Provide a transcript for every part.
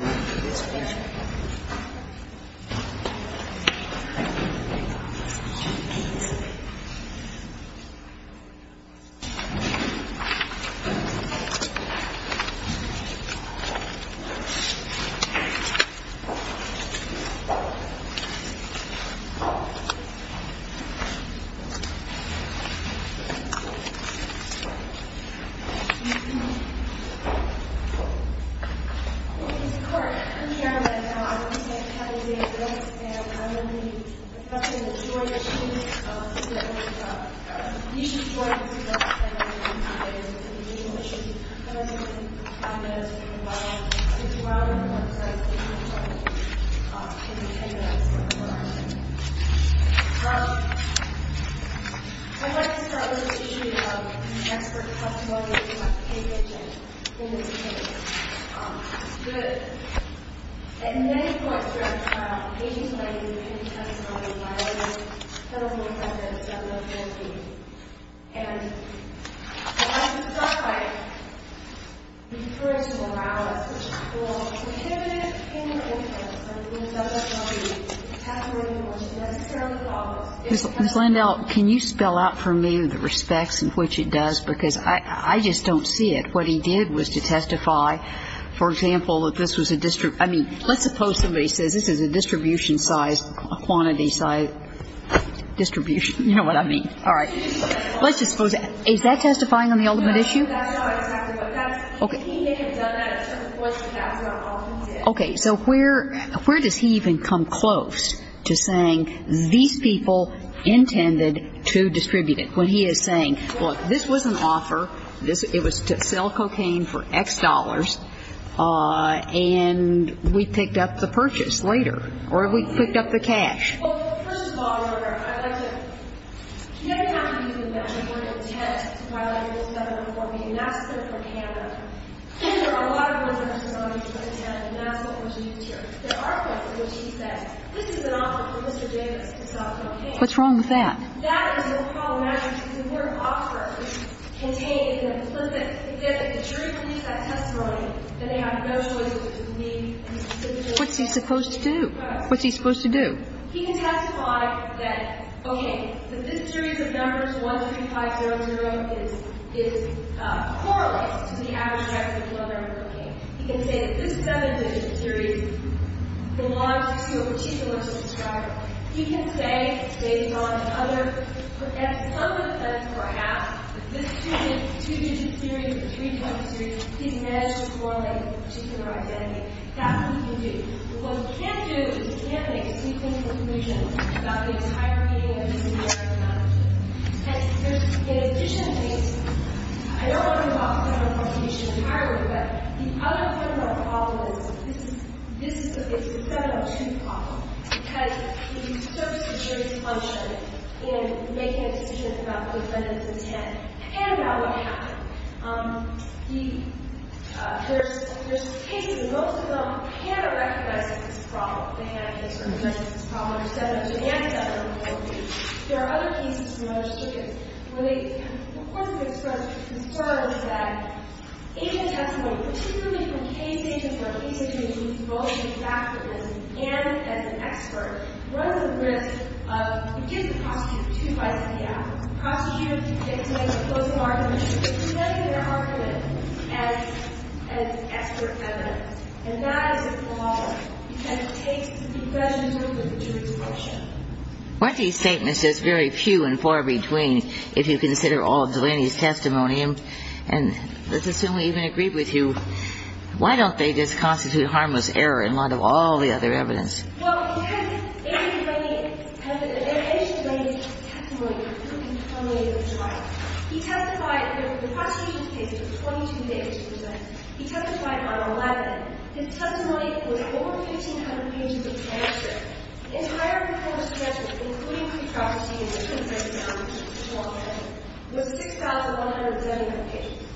It's a pleasure. Thank you. Thank you. Thanks. I'd like to start with the issue of expert testimony about the case and in this case. Ms. Lindell, can you spell out for me the respects in which it does because I just don't see it. What he did was to testify, for example, that this was a, I mean, let's suppose somebody says this is a distribution size, a quantity size distribution. You know what I mean. All right. Let's just suppose that. Is that testifying on the ultimate issue? Okay. So where does he even come close to saying these people intended to distribute it when he is saying, well, this was an offer, it was to sell cocaine for X dollars, and we picked up the purchase later, or we picked up the cash. Well, first of all, Your Honor, I'd like to, he didn't have to do that. He wouldn't intend to violate Rule 714B, and that's clear for Canada. There are a lot of reasons why he wouldn't intend, and that's what was used here. There are things in which he said, this is an offer for Mr. Davis to sell cocaine. What's wrong with that? And that is more problematic because if they're an offer contained in an implicit, if the jury believes that testimony, then they have no choice but to believe in the decision. What's he supposed to do? What's he supposed to do? He can testify that, okay, that this series of numbers, 1, 3, 5, 0, 0, is, is, correlates to the average price of leather and cocaine. He can say that this 7-digit series belongs to a particular subscriber. He can say it's based on other, and some of them perhaps, that this 2-digit, 2-digit series, or 3-digit series, he's managed to correlate to a particular identity. That's what he can do. But what he can't do is he can't make a sequential conclusion about the entire meaning of this and that or none of this. And there's, in addition to these, I don't want to talk about 714B entirely, but the other part of our problem is, this is, this is a, it's a 702 problem. Because he serves a serious function in making a decision about the defendants' intent and about what happened. He, there's, there's cases, and most of them cannot recognize this problem. They have this recognition of this problem under 702 and 714B. There are other cases in other circuits where they, of course, they sort of confirm that in the testimony, particularly from cases where he's accused of both of these activists and as an expert, runs the risk of, he gives the prosecutor two bites in the ass. The prosecutor dictates a close argument, but he doesn't get an argument as, as expert defendants. And that is a flaw. He kind of takes the concession to the jury's function. What he's saying is there's very few and far between if you consider all of Delaney's testimony. And let's assume we even agree with you. Why don't they just constitute harmless error in light of all the other evidence? Well, he has 80 writing, has an evidence-based testimony proving how many of them are right. He testified, the prosecution's case was 22 days in the Senate. He testified on 11. His testimony was over 1,500 pages in answer. His higher-reported testimony, including pre-proxy and different testimony, was 6,171 pages.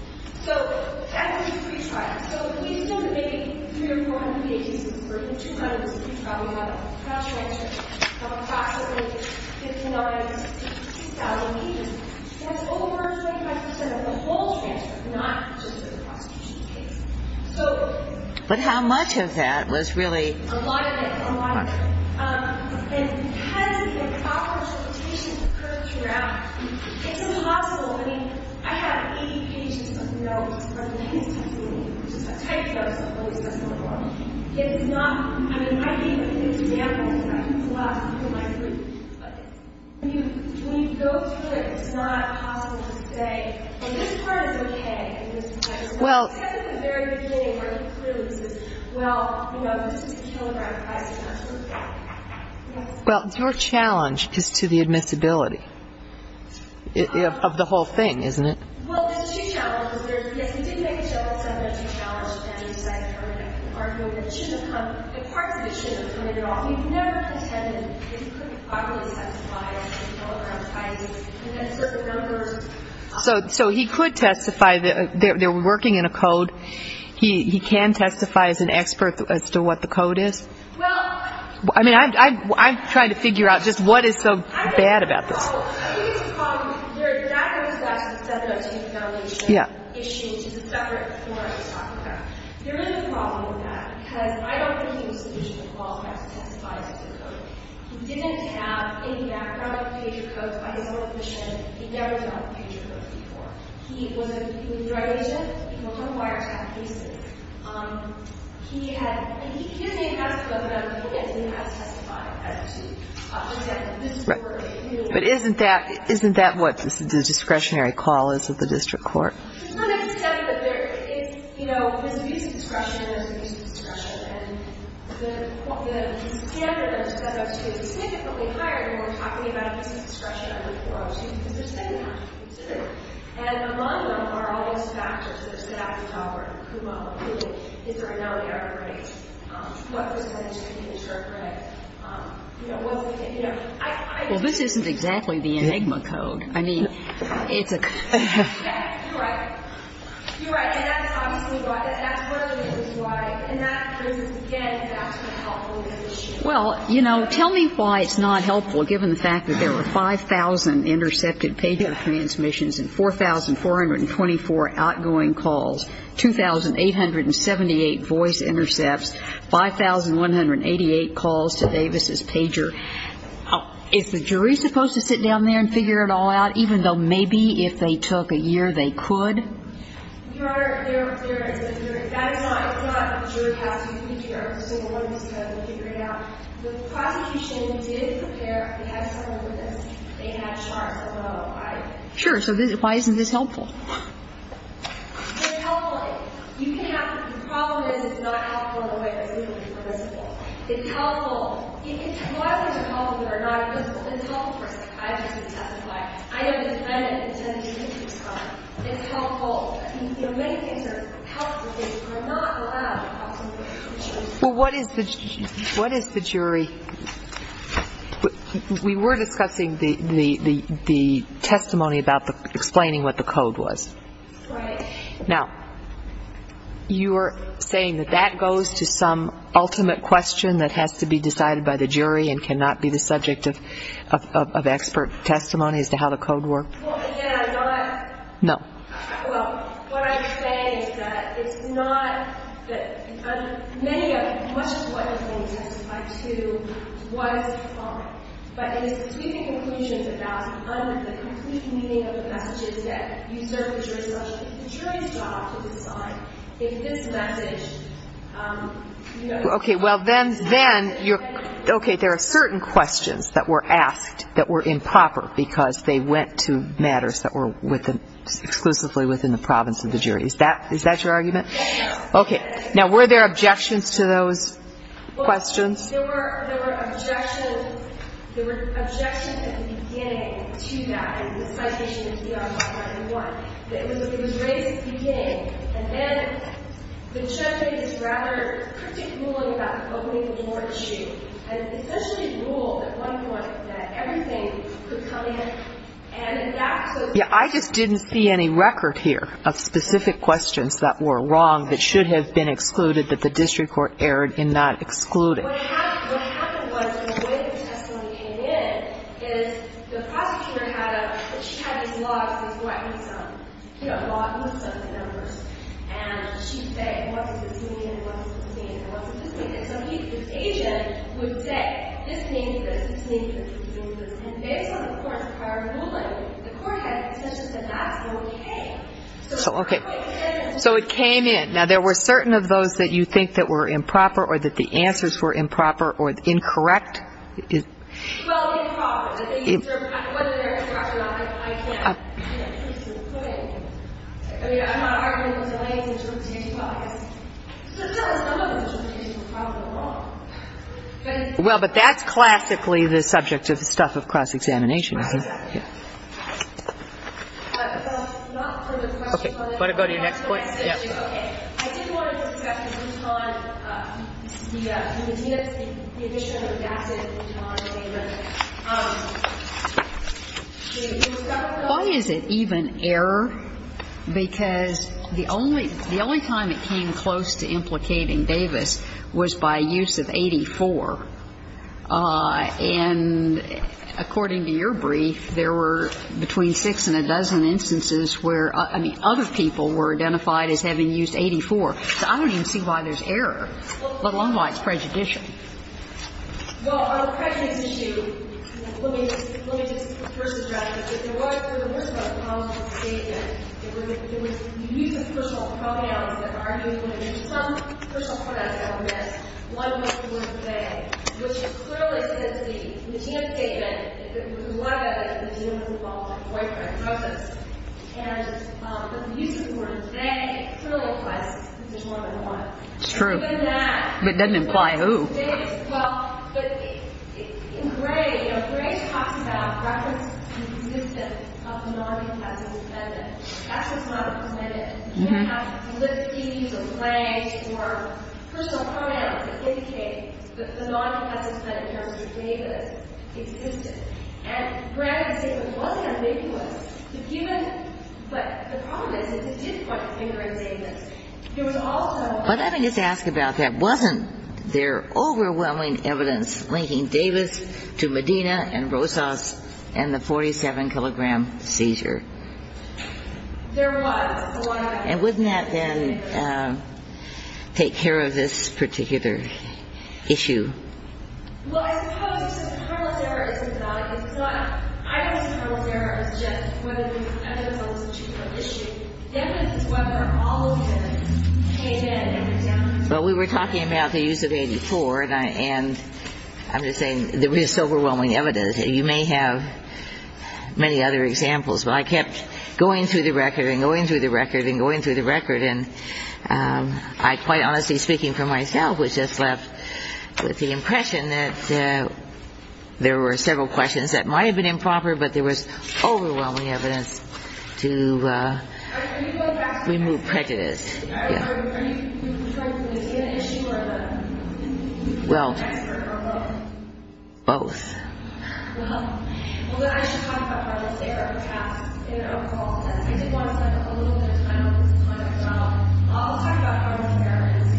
So, as we retried, so we still debate 3 or 418, but we're in 200 as we retry. We have a cross-transcript of approximately 59,000 to 2,000 pages. That's over 25 percent of the whole transcript, not just of the prosecution's case. So... But how much of that was really... A lot of it. A lot of it. And has the proper interpretation occurred throughout? It's impossible. I mean, I have 80 pages of notes from his testimony, which is a tight dose of what he said so far. It's not... I mean, it might be an example. I think it's a lot. People might agree. But when you go to it, it's not possible to say, and this part is okay, and this part is not. Well, your challenge is to the admissibility of the whole thing, isn't it? Well, there's two challenges there. Yes, he did make a self-evident challenge, and he decided to argue that it shouldn't come... Parts of it shouldn't come in at all. He never contended that he couldn't properly testify to the kilogram sizes, and then so the numbers... So he could testify. They're working in a code. He can testify as an expert as to what the code is. Well... I mean, I'm trying to figure out just what is so bad about this. I think it's a problem. There's not going to be a statute of 702 in the foundation... Yeah. ...issuing a separate form to talk about. There is a problem with that, because I don't think there's a solution to the problem of having to testify to the code. He didn't have, in the background of the page of codes by his own admission, he never saw the page of codes before. He was a drug agent. He was on a wiretap recently. He had... And he didn't ask for them, and he hasn't had to testify. But isn't that what the discretionary call is at the district court? It's not a discretion, but there is, you know, there's abuse of discretion, and there's abuse of discretion. And the standard of 702 is significantly higher when we're talking about abuse of discretion. Well, this isn't exactly the Enigma code. I mean, it's a... You're right. You're right. And that's obviously why. That's what it is. It's why. And that, again, that's not helpful. Well, you know, tell me why it's not helpful, given the fact that there were 5,000 It's not helpful. It's not helpful. It's not helpful. It's not helpful. It's not helpful. Pager transmissions and 4,424 outgoing calls, 2,878 voice intercepts, 5,188 calls to Davis's Pager. Is the jury supposed to sit down there and figure it all out, even though maybe if they took a year, they could? Your Honor, there is a jury. That is not what the jury has to figure out. The civil one has to figure it out. The prosecution did prepare. They had trouble with this. They had charts as well. Sure. So why isn't this helpful? It's helpful. You can have... The problem is it's not helpful in a way that's usually permissible. It's helpful. A lot of things are helpful that are not permissible. It's helpful for psychiatrists to testify. I know the defendant intended to do this. It's helpful. You know, many things are helpful. They are not allowed to talk to the jury. Well, what is the jury? We were discussing this. The testimony about explaining what the code was. Right. Now, you are saying that that goes to some ultimate question that has to be decided by the jury and cannot be the subject of expert testimony as to how the code works? Well, again, I'm not... No. Well, what I'm saying is that it's not that many of them, but it is between the conclusions about the complete meaning of the messages that you serve the jury such that the jury's job to decide if this message... Okay. Well, then you're... Okay. There are certain questions that were asked that were improper because they went to matters that were exclusively within the province of the jury. Is that your argument? No. Okay. Now, were there objections to those? Questions? Well, there were objections at the beginning to that, in the citation of ER 591. But it was at the very beginning. And then the judge is rather critical about opening the door issue and especially ruled at one point that everything could come in and that... Yeah, I just didn't see any record here of specific questions that were wrong that should have been excluded that the district court erred in not excluding. What happened was the way the testimony came in is the prosecutor had a... She had these logs, these weapons, you know, logs with some of the numbers, and she would say, and what does this mean, and what does this mean, and what does this mean. And so his agent would say, this means this, this means this, and based on the court's prior ruling, the court had the intention that that's okay. So, okay. So it came in. Now, there were certain of those that you think that were improper or that the answers were improper or incorrect? Well, improper. Whether they're improper or not, I can't... I mean, I'm not arguing with the lady's interpretation. Well, I guess some of the interpretation was probably wrong. Well, but that's classically the subject of the stuff of cross-examination, isn't it? Okay. Not for the question... Okay. Do you want to go to your next point? Yeah. Okay. I did want to discuss the Utah, the Medina, the addition of the massive Utah and Davis. Why is it even error? Because the only time it came close to implicating Davis was by use of 84. And according to your brief, there were between six and a dozen instances where, I mean, other people were identified as having used 84. So I don't even see why there's error, let alone why it's prejudicial. Well, on the prejudice issue, let me just first address that there was a controversial statement. It was used as crucial pronouns that argued that there were some crucial pronouns that were missed. One was the word they, which clearly says the Medina statement, it was alleged that Medina was involved in a boyfriend crisis. And the use of the word they clearly implies that this is more than one. It's true. But then that... But it doesn't imply who. Well, but in Gray, you know, Gray talks about reference to the existence of a non-competitive defendant. That's a non-competitive defendant. You don't have to lift keys or flags or personal pronouns to indicate that the non-competitive defendant in terms of Davis existed. And, granted, the statement wasn't ambiguous. The human, but the problem is, is it did point the finger at Davis. There was also... But let me just ask about that. Wasn't there overwhelming evidence linking Davis to Medina and Rosas and the 47-kilogram seizure? There was, a lot of evidence. And wouldn't that then take care of this particular issue? Well, I suppose, you said Carlisle's error is symbolic. It's not, I don't think Carlisle's error is just whether there was evidence that was a chief of issue. Then it's whether all of them came in and examined... Well, we were talking about the use of 84, and I'm just saying there was overwhelming evidence. You may have many other examples, but I kept going through the record and going through the record and going through the record, and I quite honestly, speaking for myself, was just left with the impression that there were several questions that might have been improper, but there was overwhelming evidence to remove prejudice. Were you trying to see an issue of an expert or both? Both. Well, then I should talk about Carlisle's error, perhaps, in an overall sense. I did want to spend a little bit of time with you to talk about... I'll talk about Carlisle's error in a little bit.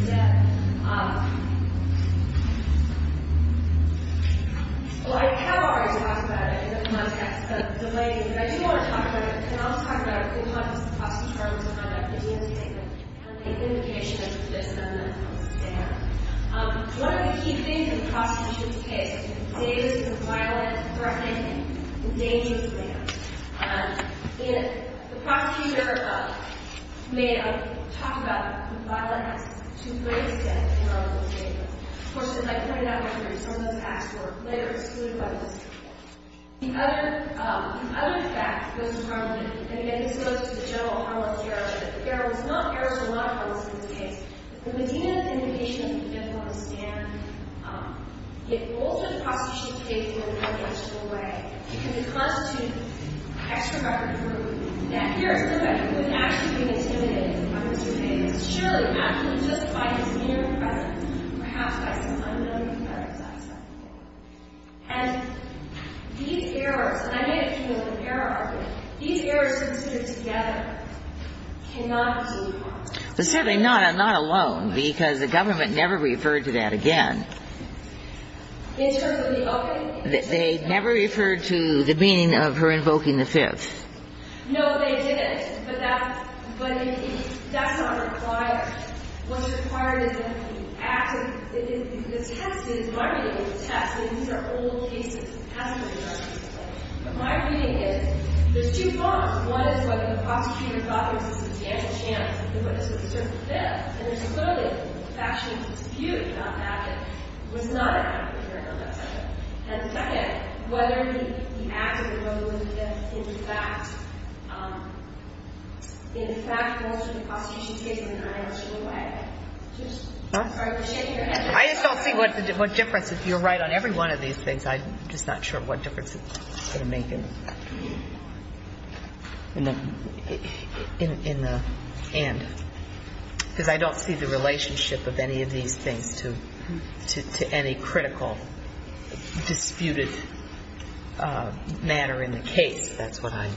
Well, I have already talked about it in the context of the lady, but I do want to talk about it, and I'll talk about it in context of Carlisle's error in the indication that there's something that doesn't stand. One of the key things in the prosecution's case is that Davis is a violent, threatening, and dangerous man. If the prosecution ever thought, may have talked about the violence, to raise that in Carlisle's case. Of course, as I pointed out earlier, some of those acts were liquor, food, weapons. The other fact that goes with Carlisle, and again, this goes to the general Carlisle's error. There was not errors in a lot of Carlisle's case. But within the indication that it doesn't want to stand, it altered the prosecution's case in an unimaginable way. Because it constitutes extra record proof that here is somebody who is actually being intimidated by Mr. Davis. Surely, not just by his inner presence, perhaps by some unknown competitive aspect. And these errors... These errors, when put together, cannot be... But certainly not alone, because the government never referred to that again. In terms of the opening? They never referred to the meaning of her invoking the Fifth. No, they didn't. But that's not required. What's required is an active... The test is... My reading is a test. And these are old cases. It hasn't been done recently. But my reading is, there's two forms. One is whether the prosecutor thought there was a substantial chance that he would have served the Fifth. And there's clearly a factual dispute about that. It was not an active error in that case. And second, whether he acted or whether it was in fact... In fact, most of the prosecution's case was in an unimaginable way. I just don't see what difference... You're right on every one of these things. I'm just not sure what difference it's going to make in the end. Because I don't see the relationship of any of these things to any critical, disputed matter in the case. That's what I...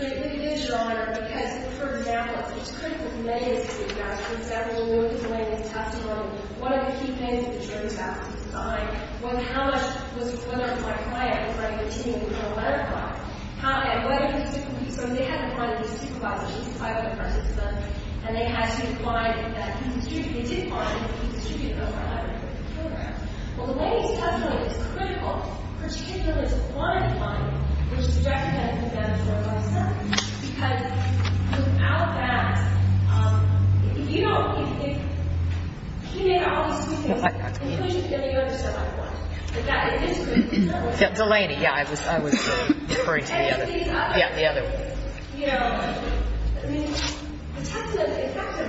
Look at this, Your Honor. Because, for example, it's critical to lay this case down. For example, you look at the latest testimony. One of the key things that you're going to have to decide, well, how much... Whether it's like, hi, I'm a friend of the team. You're going to let it fly. Hi, I'm glad you can speak with me. So they had to find a dispute advisor. She was a private professor to them. And they had to find a dispute... They did find a dispute advisor. I don't know if you can hear that. Well, the latest testimony is critical. Particular is one finding, which is a record that has been managed by my son. Because without that, if you don't... If he made all these decisions and pushed it, then you're going to survive a lot. And that is... Delaney. Yeah, I was referring to the other one. Yeah, the other one. You know, I mean, the fact that,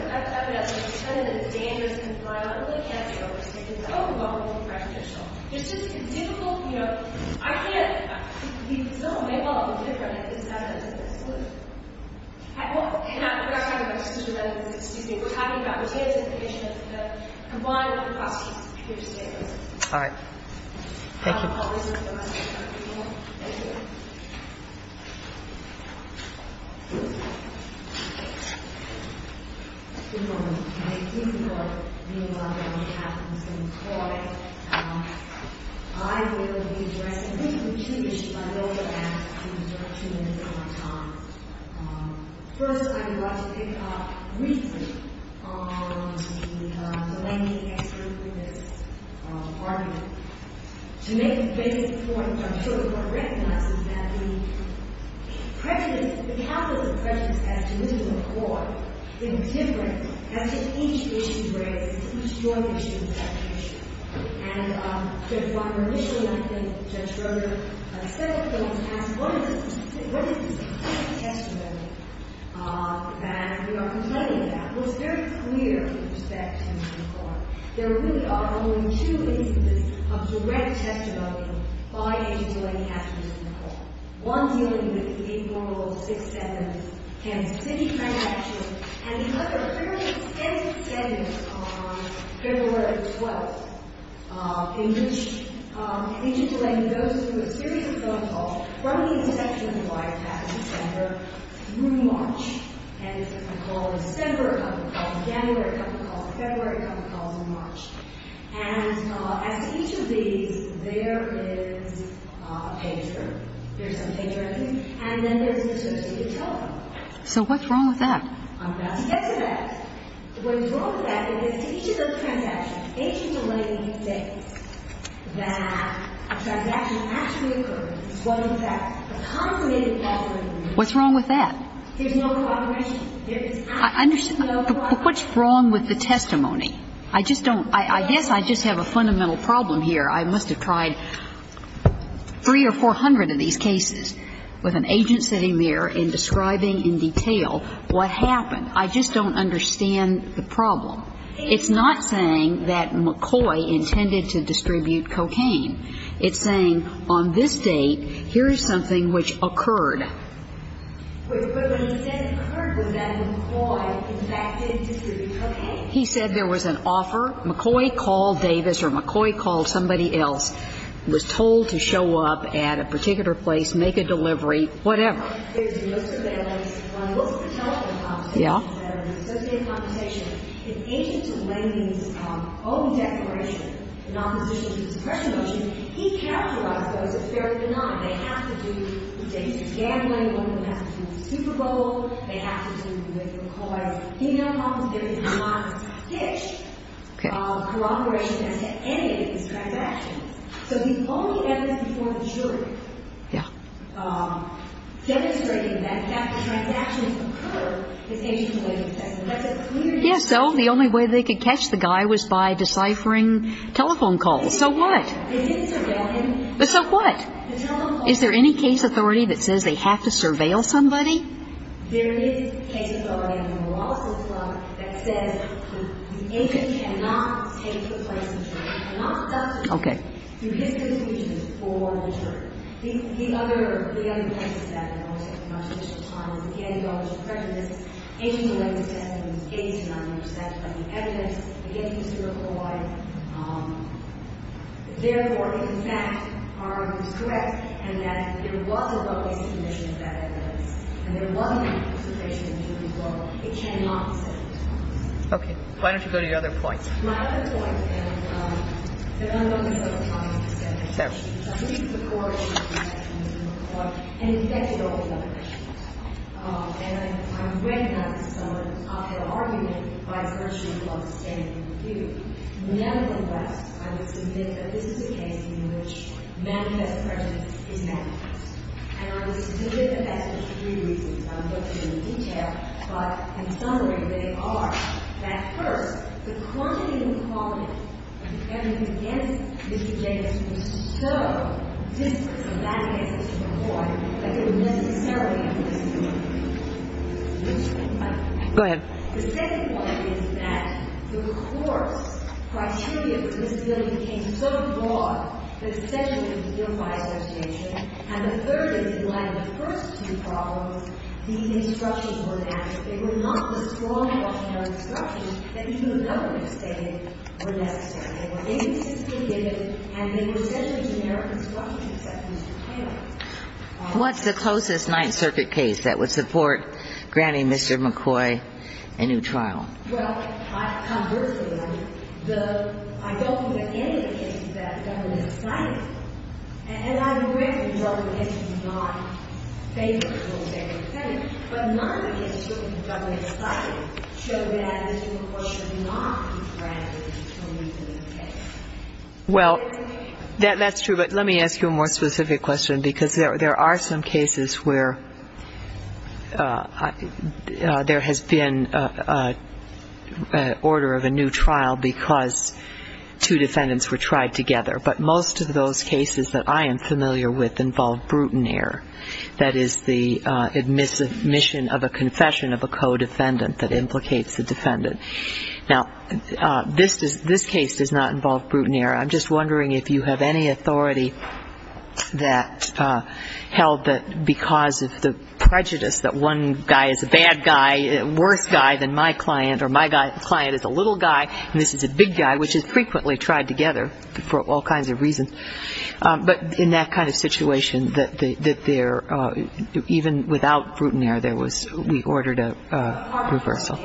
evidently, it's kind of dangerous and violent really can't be overstated. It's overwhelming and prejudicial. It's just a difficult, you know... I can't... The result may well be different if it's evident in this case. And I'm not talking about decision-making. Excuse me. We're talking about the case and the issue of the combined cost of your statements. All right. Thank you. Thank you. Good morning. Thank you for being on behalf of the Supreme Court. I will be addressing... I think we've changed, but I don't think I've asked you to do that too many times. First, I would like to pick up briefly on the Delaney expert witness argument. To make a basic point, which I'm sure the Court recognizes, that the prejudice, the calculus of prejudice, has to live in the Court in a different... has to each issue raised. It's not just your issue. It's that issue. And Judge Walker, initially, I think, Judge Schroeder, said it, but I want to ask, what is this testimony that we are complaining about? Well, it's very clear in respect to the Court. There really are only two instances of direct testimony by Agent Delaney after this in the Court. One dealing with the April 6th and 6th transactions, and another fairly extensive sentence on February 12th, in which Agent Delaney goes through a series of phone calls from the Inspection of Hawaii, back in December, through March. And there's a call in December, a couple of calls in January, a couple of calls in February, a couple of calls in March. And as to each of these, there is a pager. There's a pager, I think. And then there's an attempt to take a telephone call. So what's wrong with that? I'm about to get to that. What's wrong with that is, to each of those transactions, Agent Delaney states that a transaction actually occurred. This was, in fact, a consummated call during the week. What's wrong with that? There's no confirmation. I understand. What's wrong with the testimony? I just don't – I guess I just have a fundamental problem here. I must have tried 300 or 400 of these cases with an agent sitting there and describing in detail what happened. I just don't understand the problem. It's not saying that McCoy intended to distribute cocaine. It's saying, on this date, here is something which occurred. But when he said it occurred, was that McCoy, in fact, did distribute cocaine? He said there was an offer. McCoy called Davis or McCoy called somebody else, was told to show up at a particular place, make a delivery, whatever. There's most of the evidence on most of the telephone conversations that are in the Associated Compensation. If Agent Delaney's own declaration in opposition to the suppression motion, he characterized those as fairly benign. They have to do – he's gambling. One of them has to do with Super Bowl. They have to do with McCoy. There's female problems. There's not a hitch of corroboration as to any of these transactions. So the only evidence before the jury demonstrating that, in fact, the transactions occur is Agent Delaney's testimony. That's a clear – Yes, so the only way they could catch the guy was by deciphering telephone calls. So what? They didn't surveil him. So what? Is there any case authority that says they have to surveil somebody? There is a case authority on the Wallace Hill Club that says the agent cannot take the place of the jury, cannot substitute through his conclusion for the jury. The other – the other thing is that, and I'll say it for the rest of the time, is that the antitrust suppression is Agent Delaney's testimony. His case is not under satisfying evidence against Mr. McCoy. Okay. Why don't you go to your other point? My other point, and there are a number of other points to say. There's a case before it, and there's a case after it, and there's a case before it. And, in fact, there are all these other cases. And I read some of their argument by a person who was on the standing review. Nevertheless, I would submit that this is a case in which manifest prejudice is manifest. And I would submit that that's for three reasons. I won't go into detail. But, in summary, they are that, first, the quantity of involvement of defendants against Mr. James was so disparate from that of Mr. McCoy that it would necessarily have been disappointing. Go ahead. The second point is that the course, criteria for disability became so broad that it essentially was a unified association. And the third is that, in light of the first two problems, the instructions were natural. They were not the strong, optional instructions that the human element stated were necessary. They were anticipated, and they were essentially generic instructions that Mr. Taylor was following. What's the closest Ninth Circuit case that would support granting Mr. McCoy a new trial? Well, conversely, I don't think there's any case that government decided. And I would recommend that the government is not favorable to what they were saying. But none of the instructions the government decided show that Mr. McCoy should not be granted a determinant case. Well, that's true. But let me ask you a more specific question, because there are some cases where there has been an order of a new trial because two defendants were tried together. But most of those cases that I am familiar with involve brutineer. That is the admission of a confession of a co-defendant that implicates the defendant. Now, this case does not involve brutineer. I'm just wondering if you have any authority that held that because of the prejudice that one guy is a bad guy, a worse guy than my client, or my client is a little guy, and this is a big guy, which is frequently tried together for all kinds of reasons. But in that kind of situation, that there even without brutineer, there was a reversal.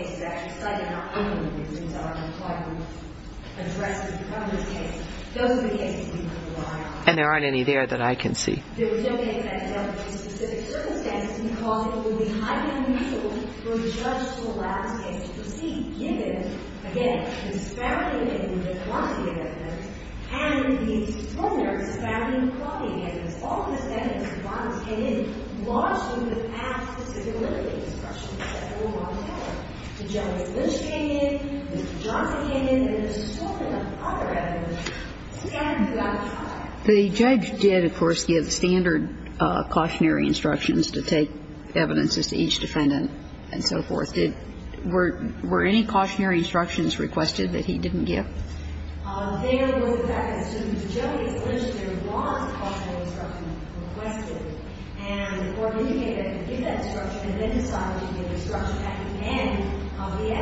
And there aren't any there that I can see. The judge did, of course, give standard cautionary instructions to take evidences to each defendant and so forth. Did – were any cautionary instructions requested that he didn't give?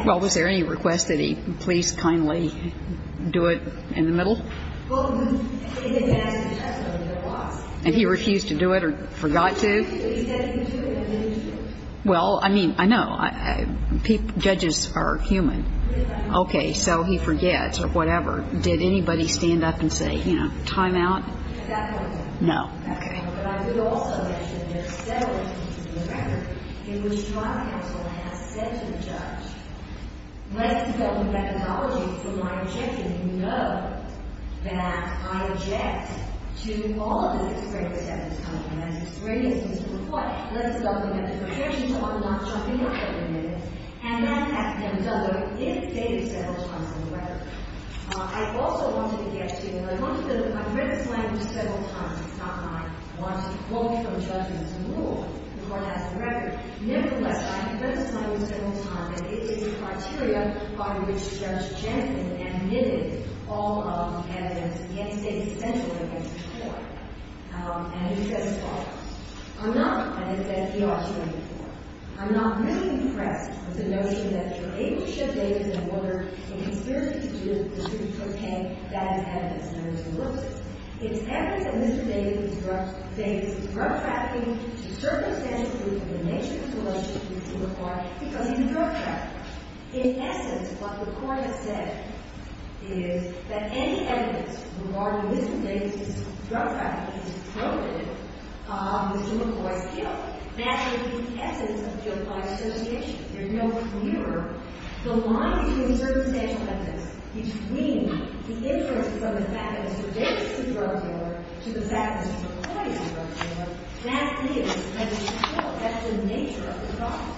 Well, was there any request that he please kindly do it in the middle? And he refused to do it or forgot to? Well, I mean, I know. Judges are human. So he forgets. Okay. Let's depend on the methodology for my objection. You know that I object to all of the requests. It has two reasons. Let's look at the provisions on not jumping up every minute. And that's at the end of it, if dated several times in the record. I also wanted to get to the point that I've read this language several times. It's not like I want to quote you from judgments and rules. The court has the record. Nevertheless, I have read this language several times, and it is a criteria by which Judge Jensen admitted all of the evidence against David Spencer against the court. And he says the following. I'm not, and I've said it to you all before, I'm not really impressed with the notion that you're able to ship David in order to conspire to distribute cocaine. That is evidence. And I'm just going to look at it. It's evidence that Mr. David is drug trafficking. It's a circumstantial proof of the nature of his relationship with the court because he's a drug trafficker. In essence, what the court has said is that any evidence regarding Mr. David's drug trafficking is provative of Mr. McCloy's guilt. That is the essence of a justified association. There's no mirror. The line between circumstantial evidence, between the inferences of the fact that Mr. David is a drug dealer to the fact that Mr. McCloy is a drug dealer, that is evidence of guilt. That's the nature of the problem.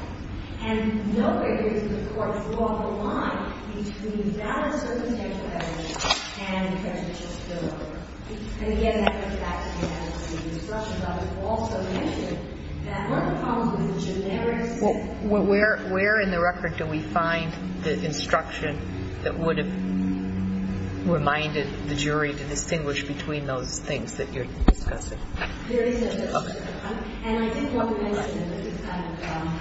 And no figures in the court draw the line between that circumstantial evidence and the evidence of his guilt. And again, that goes back to the discussion that was also mentioned, that one of the problems with the generic sense is that there's no mirror. Where in the record do we find the instruction that would have reminded the jury to distinguish between those things that you're discussing? There is no mirror. And I do want to mention that this is kind of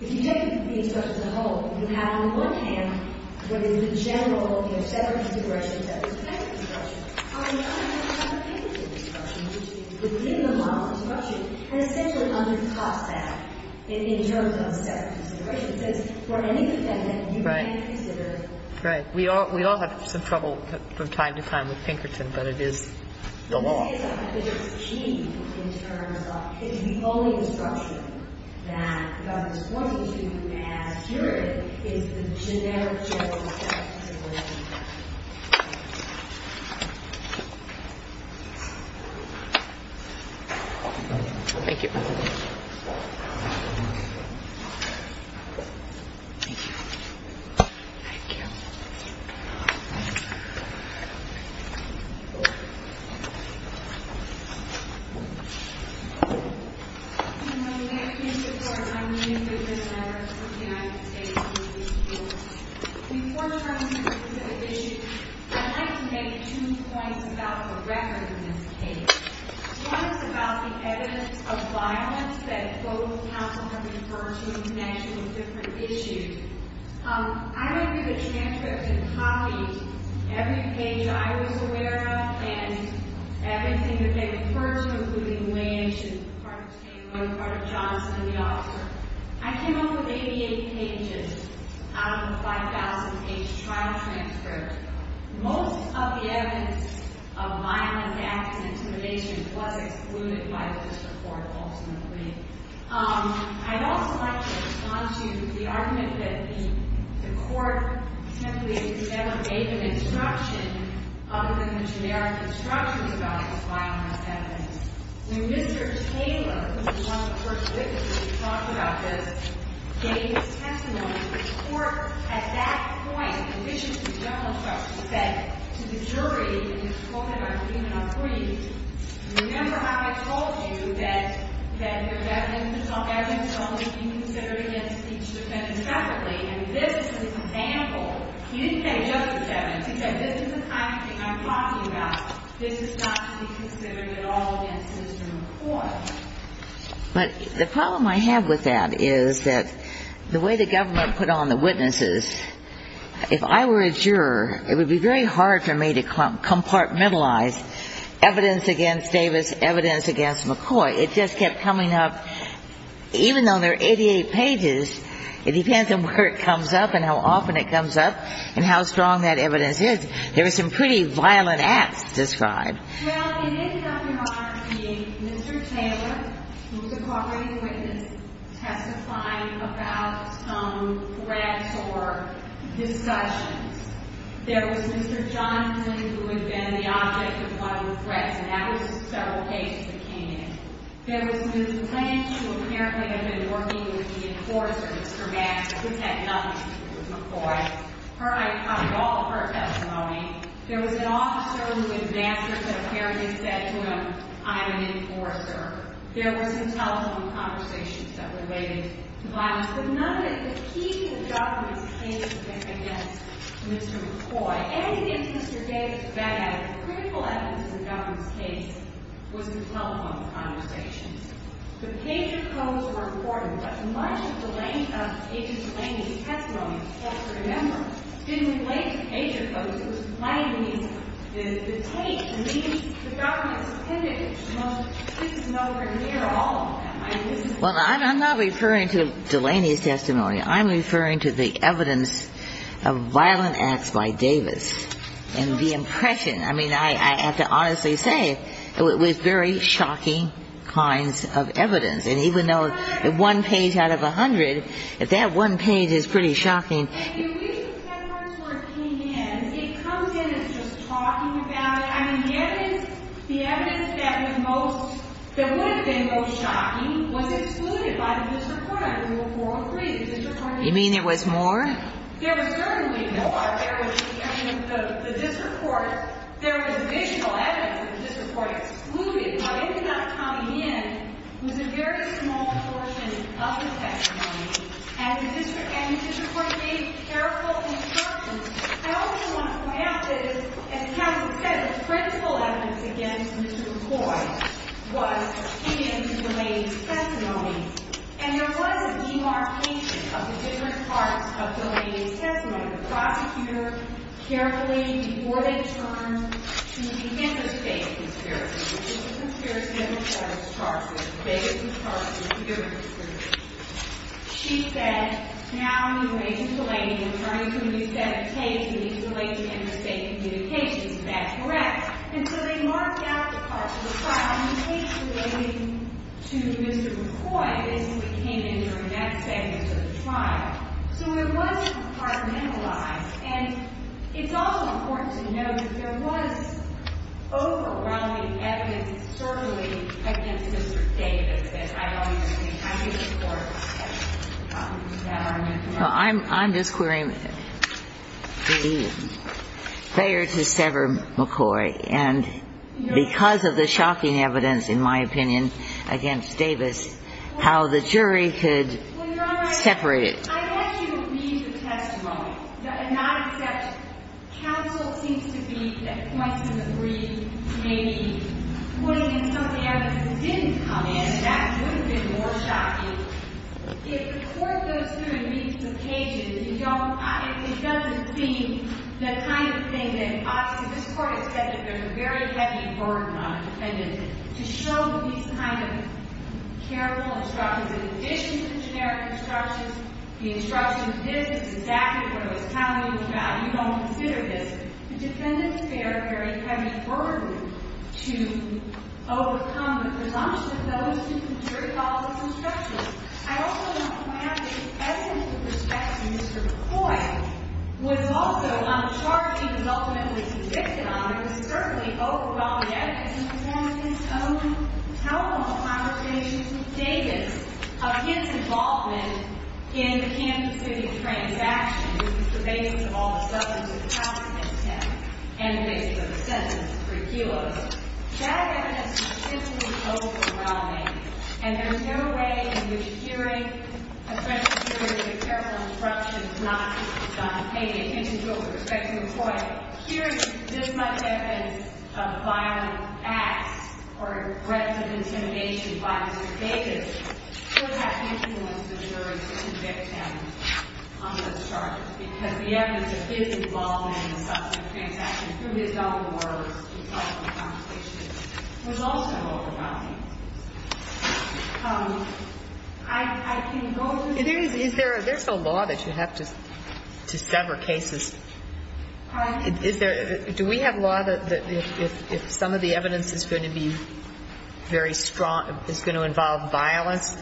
the objective of the discussion as a whole. You have on the one hand what is the general set of considerations that is connected to the discussion. On the other hand, you have Pinkerton's discussion, which is within the model of discussion, and essentially undercuts that in terms of set of considerations, since for any defendant, you can't consider. Right. We all have some trouble from time to time with Pinkerton, but it is the law. So what is achieved in terms of the only instruction that the government is pointing to as juridic is the generic general set of considerations. Thank you. Thank you. Thank you. Thank you. I'm Linda Pinkerton, and I'm a new member of the United States Judicial Board. Before turning to the specific issue, I'd like to make two points about the record in this case. One is about the evidence of violence that both counsel have referred to in connection with different issues. I went through the transcript and copied every page I was aware of and evidence that I think that they referred to, including Wayne's and one part of Johnson and the other. I came up with 88 pages out of the 5,000-page trial transcript. Most of the evidence of violence, acts, and intimidation was excluded by this report, ultimately. I'd also like to respond to the argument that the court simply never gave an instruction other than the generic instruction about the violence evidence. When Mr. Taylor, who was one of the first witnesses to talk about this, gave his testimony, the court at that point, in addition to the general judge, said to the jury, and this quote that I've given up for you, remember how I told you that the evidence should only be considered against each defendant separately. And this is an example. You didn't have justice evidence. You said, this is the kind of thing I'm talking about. This is not to be considered at all against Mr. McCoy. But the problem I have with that is that the way the government put on the witnesses, if I were a juror, it would be very hard for me to compartmentalize evidence against Davis, evidence against McCoy. It just kept coming up. Even though there are 88 pages, it depends on where it comes up and how often it comes up and how strong that evidence is. There were some pretty violent acts described. Well, it ended up, Your Honor, being Mr. Taylor, who was a cooperating witness, testifying about threats or discussions. There was Mr. Johnson, who had been the object of a lot of threats, and that was several cases that came in. There was Ms. Lynch, who apparently had been working with the enforcer, Mr. Max, who had nothing to do with McCoy. Her eye caught all of her testimony. There was an officer who, in master's of parodies, said to him, I'm an enforcer. There were some telephone conversations that related to violence. But none of the key to the government's case against Mr. McCoy. And I think it's Mr. Davis' bad habit. I think that the critical evidence in the government's case was the telephone conversations. The pager codes were important, but much of Delaney's testimony, let's remember, didn't relate to pager codes. It was plain and easy. The tape means the government suspended it. It's nowhere near all of them. I mean, this is the evidence. Well, I'm not referring to Delaney's testimony. I'm referring to the evidence of violent acts by Davis and the impression. I mean, I have to honestly say, it was very shocking kinds of evidence. And even though one page out of a hundred, that one page is pretty shocking. The reason that word came in, it comes in as just talking about it. I mean, the evidence that was most, that would have been most shocking, was excluded by the district court. We were 403. You mean there was more? There was certainly more. I mean, the district court, there was additional evidence that the district court excluded. But it did not come in. It was a very small portion of the testimony. And the district court gave careful instructions. I also want to point out that, as counsel said, the critical evidence against Mr. McCoy was in Delaney's testimony. The prosecutor carefully, before they turned to the Kansas State conspiracy, which is a conspiracy that McCoy has charged with. Davis has charged with conspiracy. She said, now you mentioned Delaney was referring to a new set of cases related to interstate communications. Is that correct? And so they marked out the part of the trial in the case relating to Mr. McCoy. This is what came in during that segment of the trial. So it was compartmentalized. And it's also important to note that there was overwhelming evidence, certainly, against Mr. Davis that I don't think the Kansas court had. I'm just querying. They are to sever McCoy. And because of the shocking evidence, in my opinion, against Davis, how the jury could separate it. I'd ask you to read the testimony and not accept counsel seems to believe that points in the brief may be putting in some evidence that didn't come in. That would have been more shocking. If the court goes through and reads the pages, it doesn't seem the kind of thing that ought to be. This court has said that there's a very heavy burden on a defendant to show these kind of careful instructions in addition to the generic instructions. The instructions in this is exactly what I was telling you about. You don't consider this. The defendants bear a very heavy burden to overcome the presumptions of those who concur with all of the instructions. I also want to add that the evidence in respect to Mr. McCoy was also, on the charges he was ultimately convicted on, there was certainly overwhelming evidence in the defendant's own telephone conversations with Davis of his involvement in the Kansas City transaction, which was the basis of all the substance of the housing intent and the basis of the sentence for Equinox. That evidence was simply overwhelming. And there's no way in which hearing a federal jury with a careful instruction of not paying attention to it with respect to McCoy, hearing this much evidence of violent acts or threats of intimidation by Mr. Davis, would have influenced the jury to convict him on those charges, because the evidence of his involvement in the substance of the transaction through his own words in telephone conversations was also overwhelming. I can go through this. Is there a law that you have to sever cases? Do we have law that if some of the evidence is going to be very strong, is going to involve violence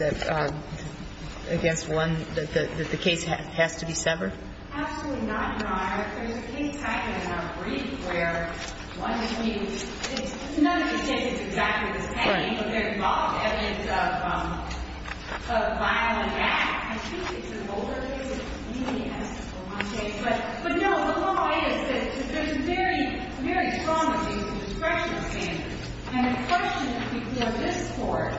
against one, that the case has to be severed? Absolutely not, Your Honor. There's a case I had in our brief where one of the cases, none of the cases is exactly the same, but there's a lot of evidence of violent acts. I think it's an older case. It's an even younger case. But no, the law is that there's very, very strong evidence of discretionary standards. And the question before this Court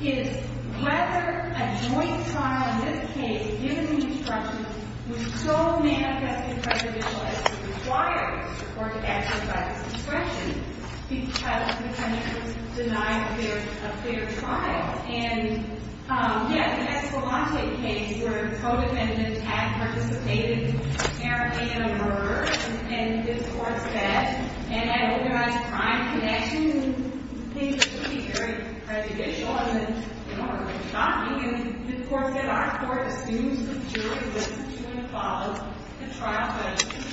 is whether a joint trial in this case, given the instructions, would so manifestly prejudicial as to require the court to exercise discretion because the judge was denying a fair trial. And, yeah, the Escalante case where a co-defendant had participated apparently in a murder, and this Court said, and had organized a crime connection and things that would be very prejudicial and shocking, and this Court said our Court assumes the jury was going to follow the trial by instruction.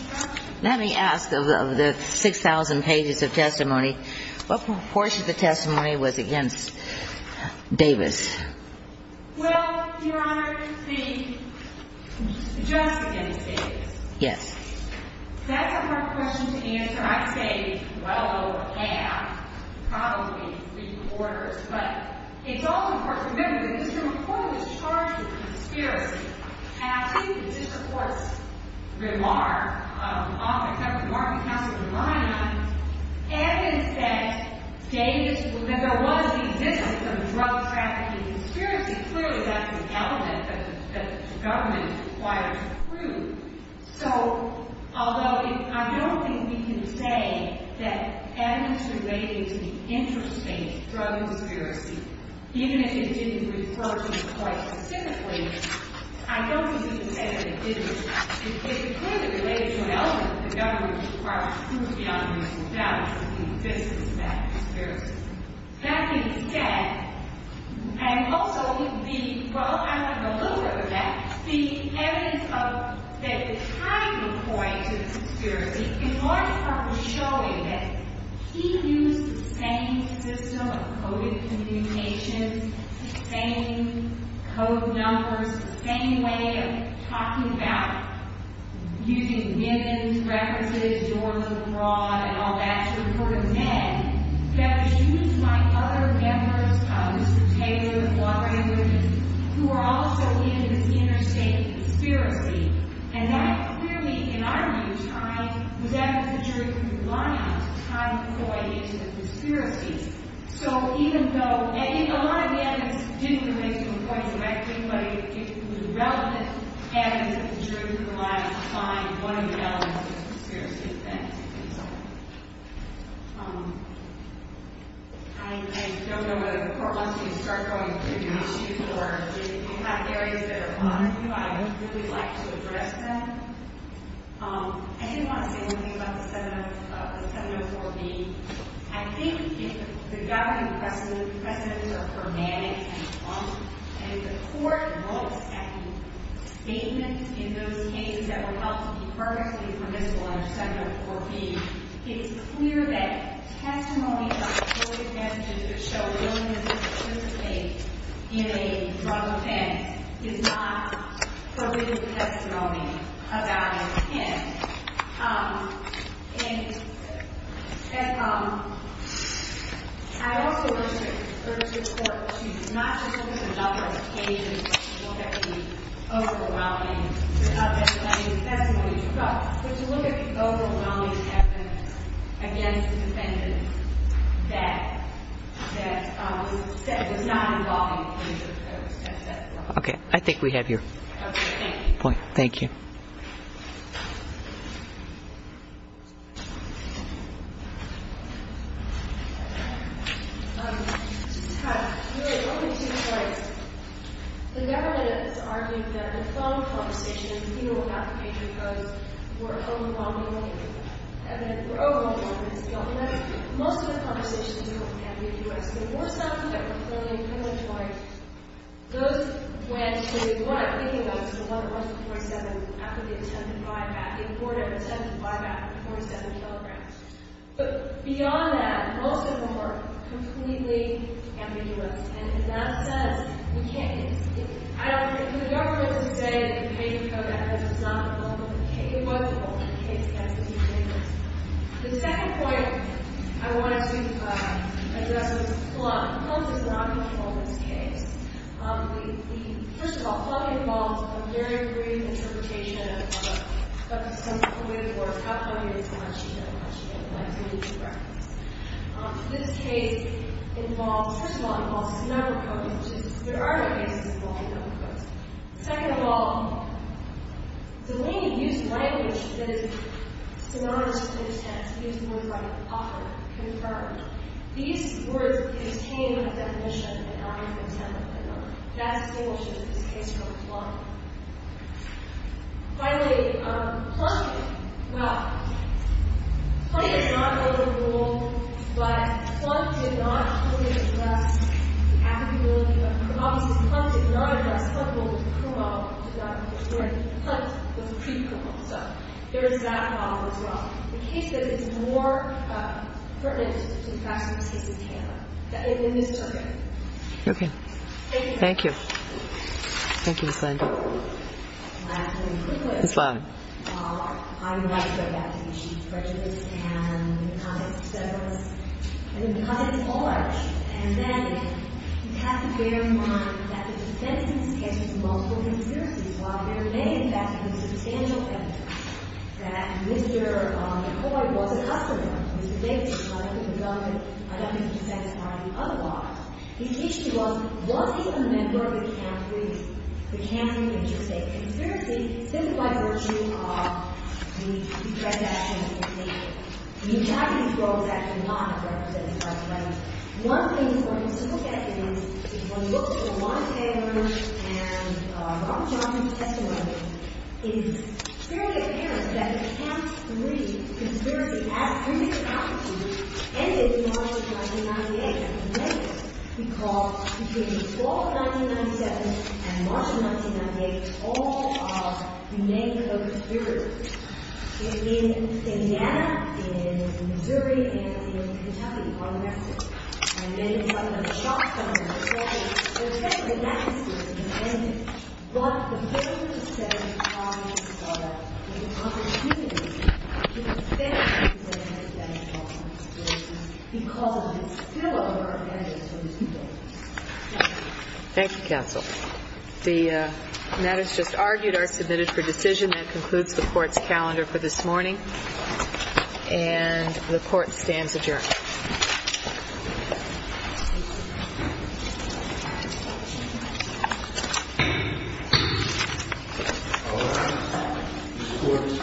Let me ask of the 6,000 pages of testimony, what proportion of the testimony was against Davis? Well, Your Honor, the judge was against Davis. Yes. That's a hard question to answer. I'd say well over half. Probably three-quarters. But it's also, of course, remember that this Court reported a charge of conspiracy. And I believe that this Court's remark often comes to the mark of counsel line on evidence that there was the existence of a drug trafficking conspiracy. Clearly, that's an element that the government requires to prove. So although I don't think we can say that evidence relating to the interest based drug conspiracy, even if it didn't refer to it quite specifically, I don't think we can say that it didn't. It clearly relates to an element that the government requires to prove beyond reasonable doubt that there was the existence of that conspiracy. That being said, and also the, well, I'm a little bit of a vet, the evidence of that the time point of the conspiracy, in large part, was showing that he used the same system of coded communications, the same code numbers, the same way of using MIMs, references, door-to-door, and all that to report a bed, that he used my other members, Mr. Taylor and Walter Andrews, who were also in an interstate conspiracy. And that clearly, in our view, was evidence that jury could rely on to time point into the conspiracy. So even though a lot of the evidence didn't relate to a point directly, but it was relevant evidence that the jury could rely on to find one of the elements of the conspiracy. And so I don't know whether the court wants me to start going through the issues or if you have areas that are important to you, I would really like to address them. I didn't want to say anything about the 704B. I think the governing precedents are hermetic and blunt, and if the court looks at the statements in those cases that were held to be purposely permissible in the 704B, it's clear that testimony about coded messages that show willingness to participate in a drug offense is not permitted testimony about an offense. And I also urge the court to not just look at a number of cases that won't have to be overwhelming to have that kind of testimony, but to look at the overwhelming evidence against the defendant that was not involved in the claims of those testimonies. Okay. I think we have your point. Thank you. Thank you. Just kind of, really, one of the two points. The government is arguing that the phone conversations, even without the patron post, were overwhelming evidence. Evidence were overwhelming evidence. Most of the conversations we had with U.S. and more so than that were clearly a criminal choice. Those went to what I'm thinking about is the one that went to 47 after the attempted buyback. The court had an attempted buyback for 47 kilograms. But beyond that, most of them were completely ambiguous. And in that sense, we can't, I don't, for the government to say that the patron code evidence was not involved in the case, it was involved in the case against the defendant. The second point I wanted to address was Plum. Plum did not get involved in this case. We, first of all, Plum involved a very brief interpretation of some of the words, how Plum used the word, she didn't. She didn't. I believe she referenced. This case involves, first of all, it involves some other codes, which is, there are cases involving other codes. Second of all, Delaney used language that is synonymous with intent to use the word right, offer, confirm. These words contain a definition and are not intended. That distinguishes this case from Plum. Finally, Plum, well, Plum did not know the rule, but Plum did not clearly address the case. So there is that problem as well. The case is more pertinent to the fact that this case is TANF, in this circuit. Okay. Thank you. Thank you. Thank you, Ms. Landau. Ms. Landau. Thank you, counsel. The matters just argued are submitted for decision. That concludes the Court's calendar for this morning. And the Court stands adjourned. The Court is adjourned. The Court is adjourned.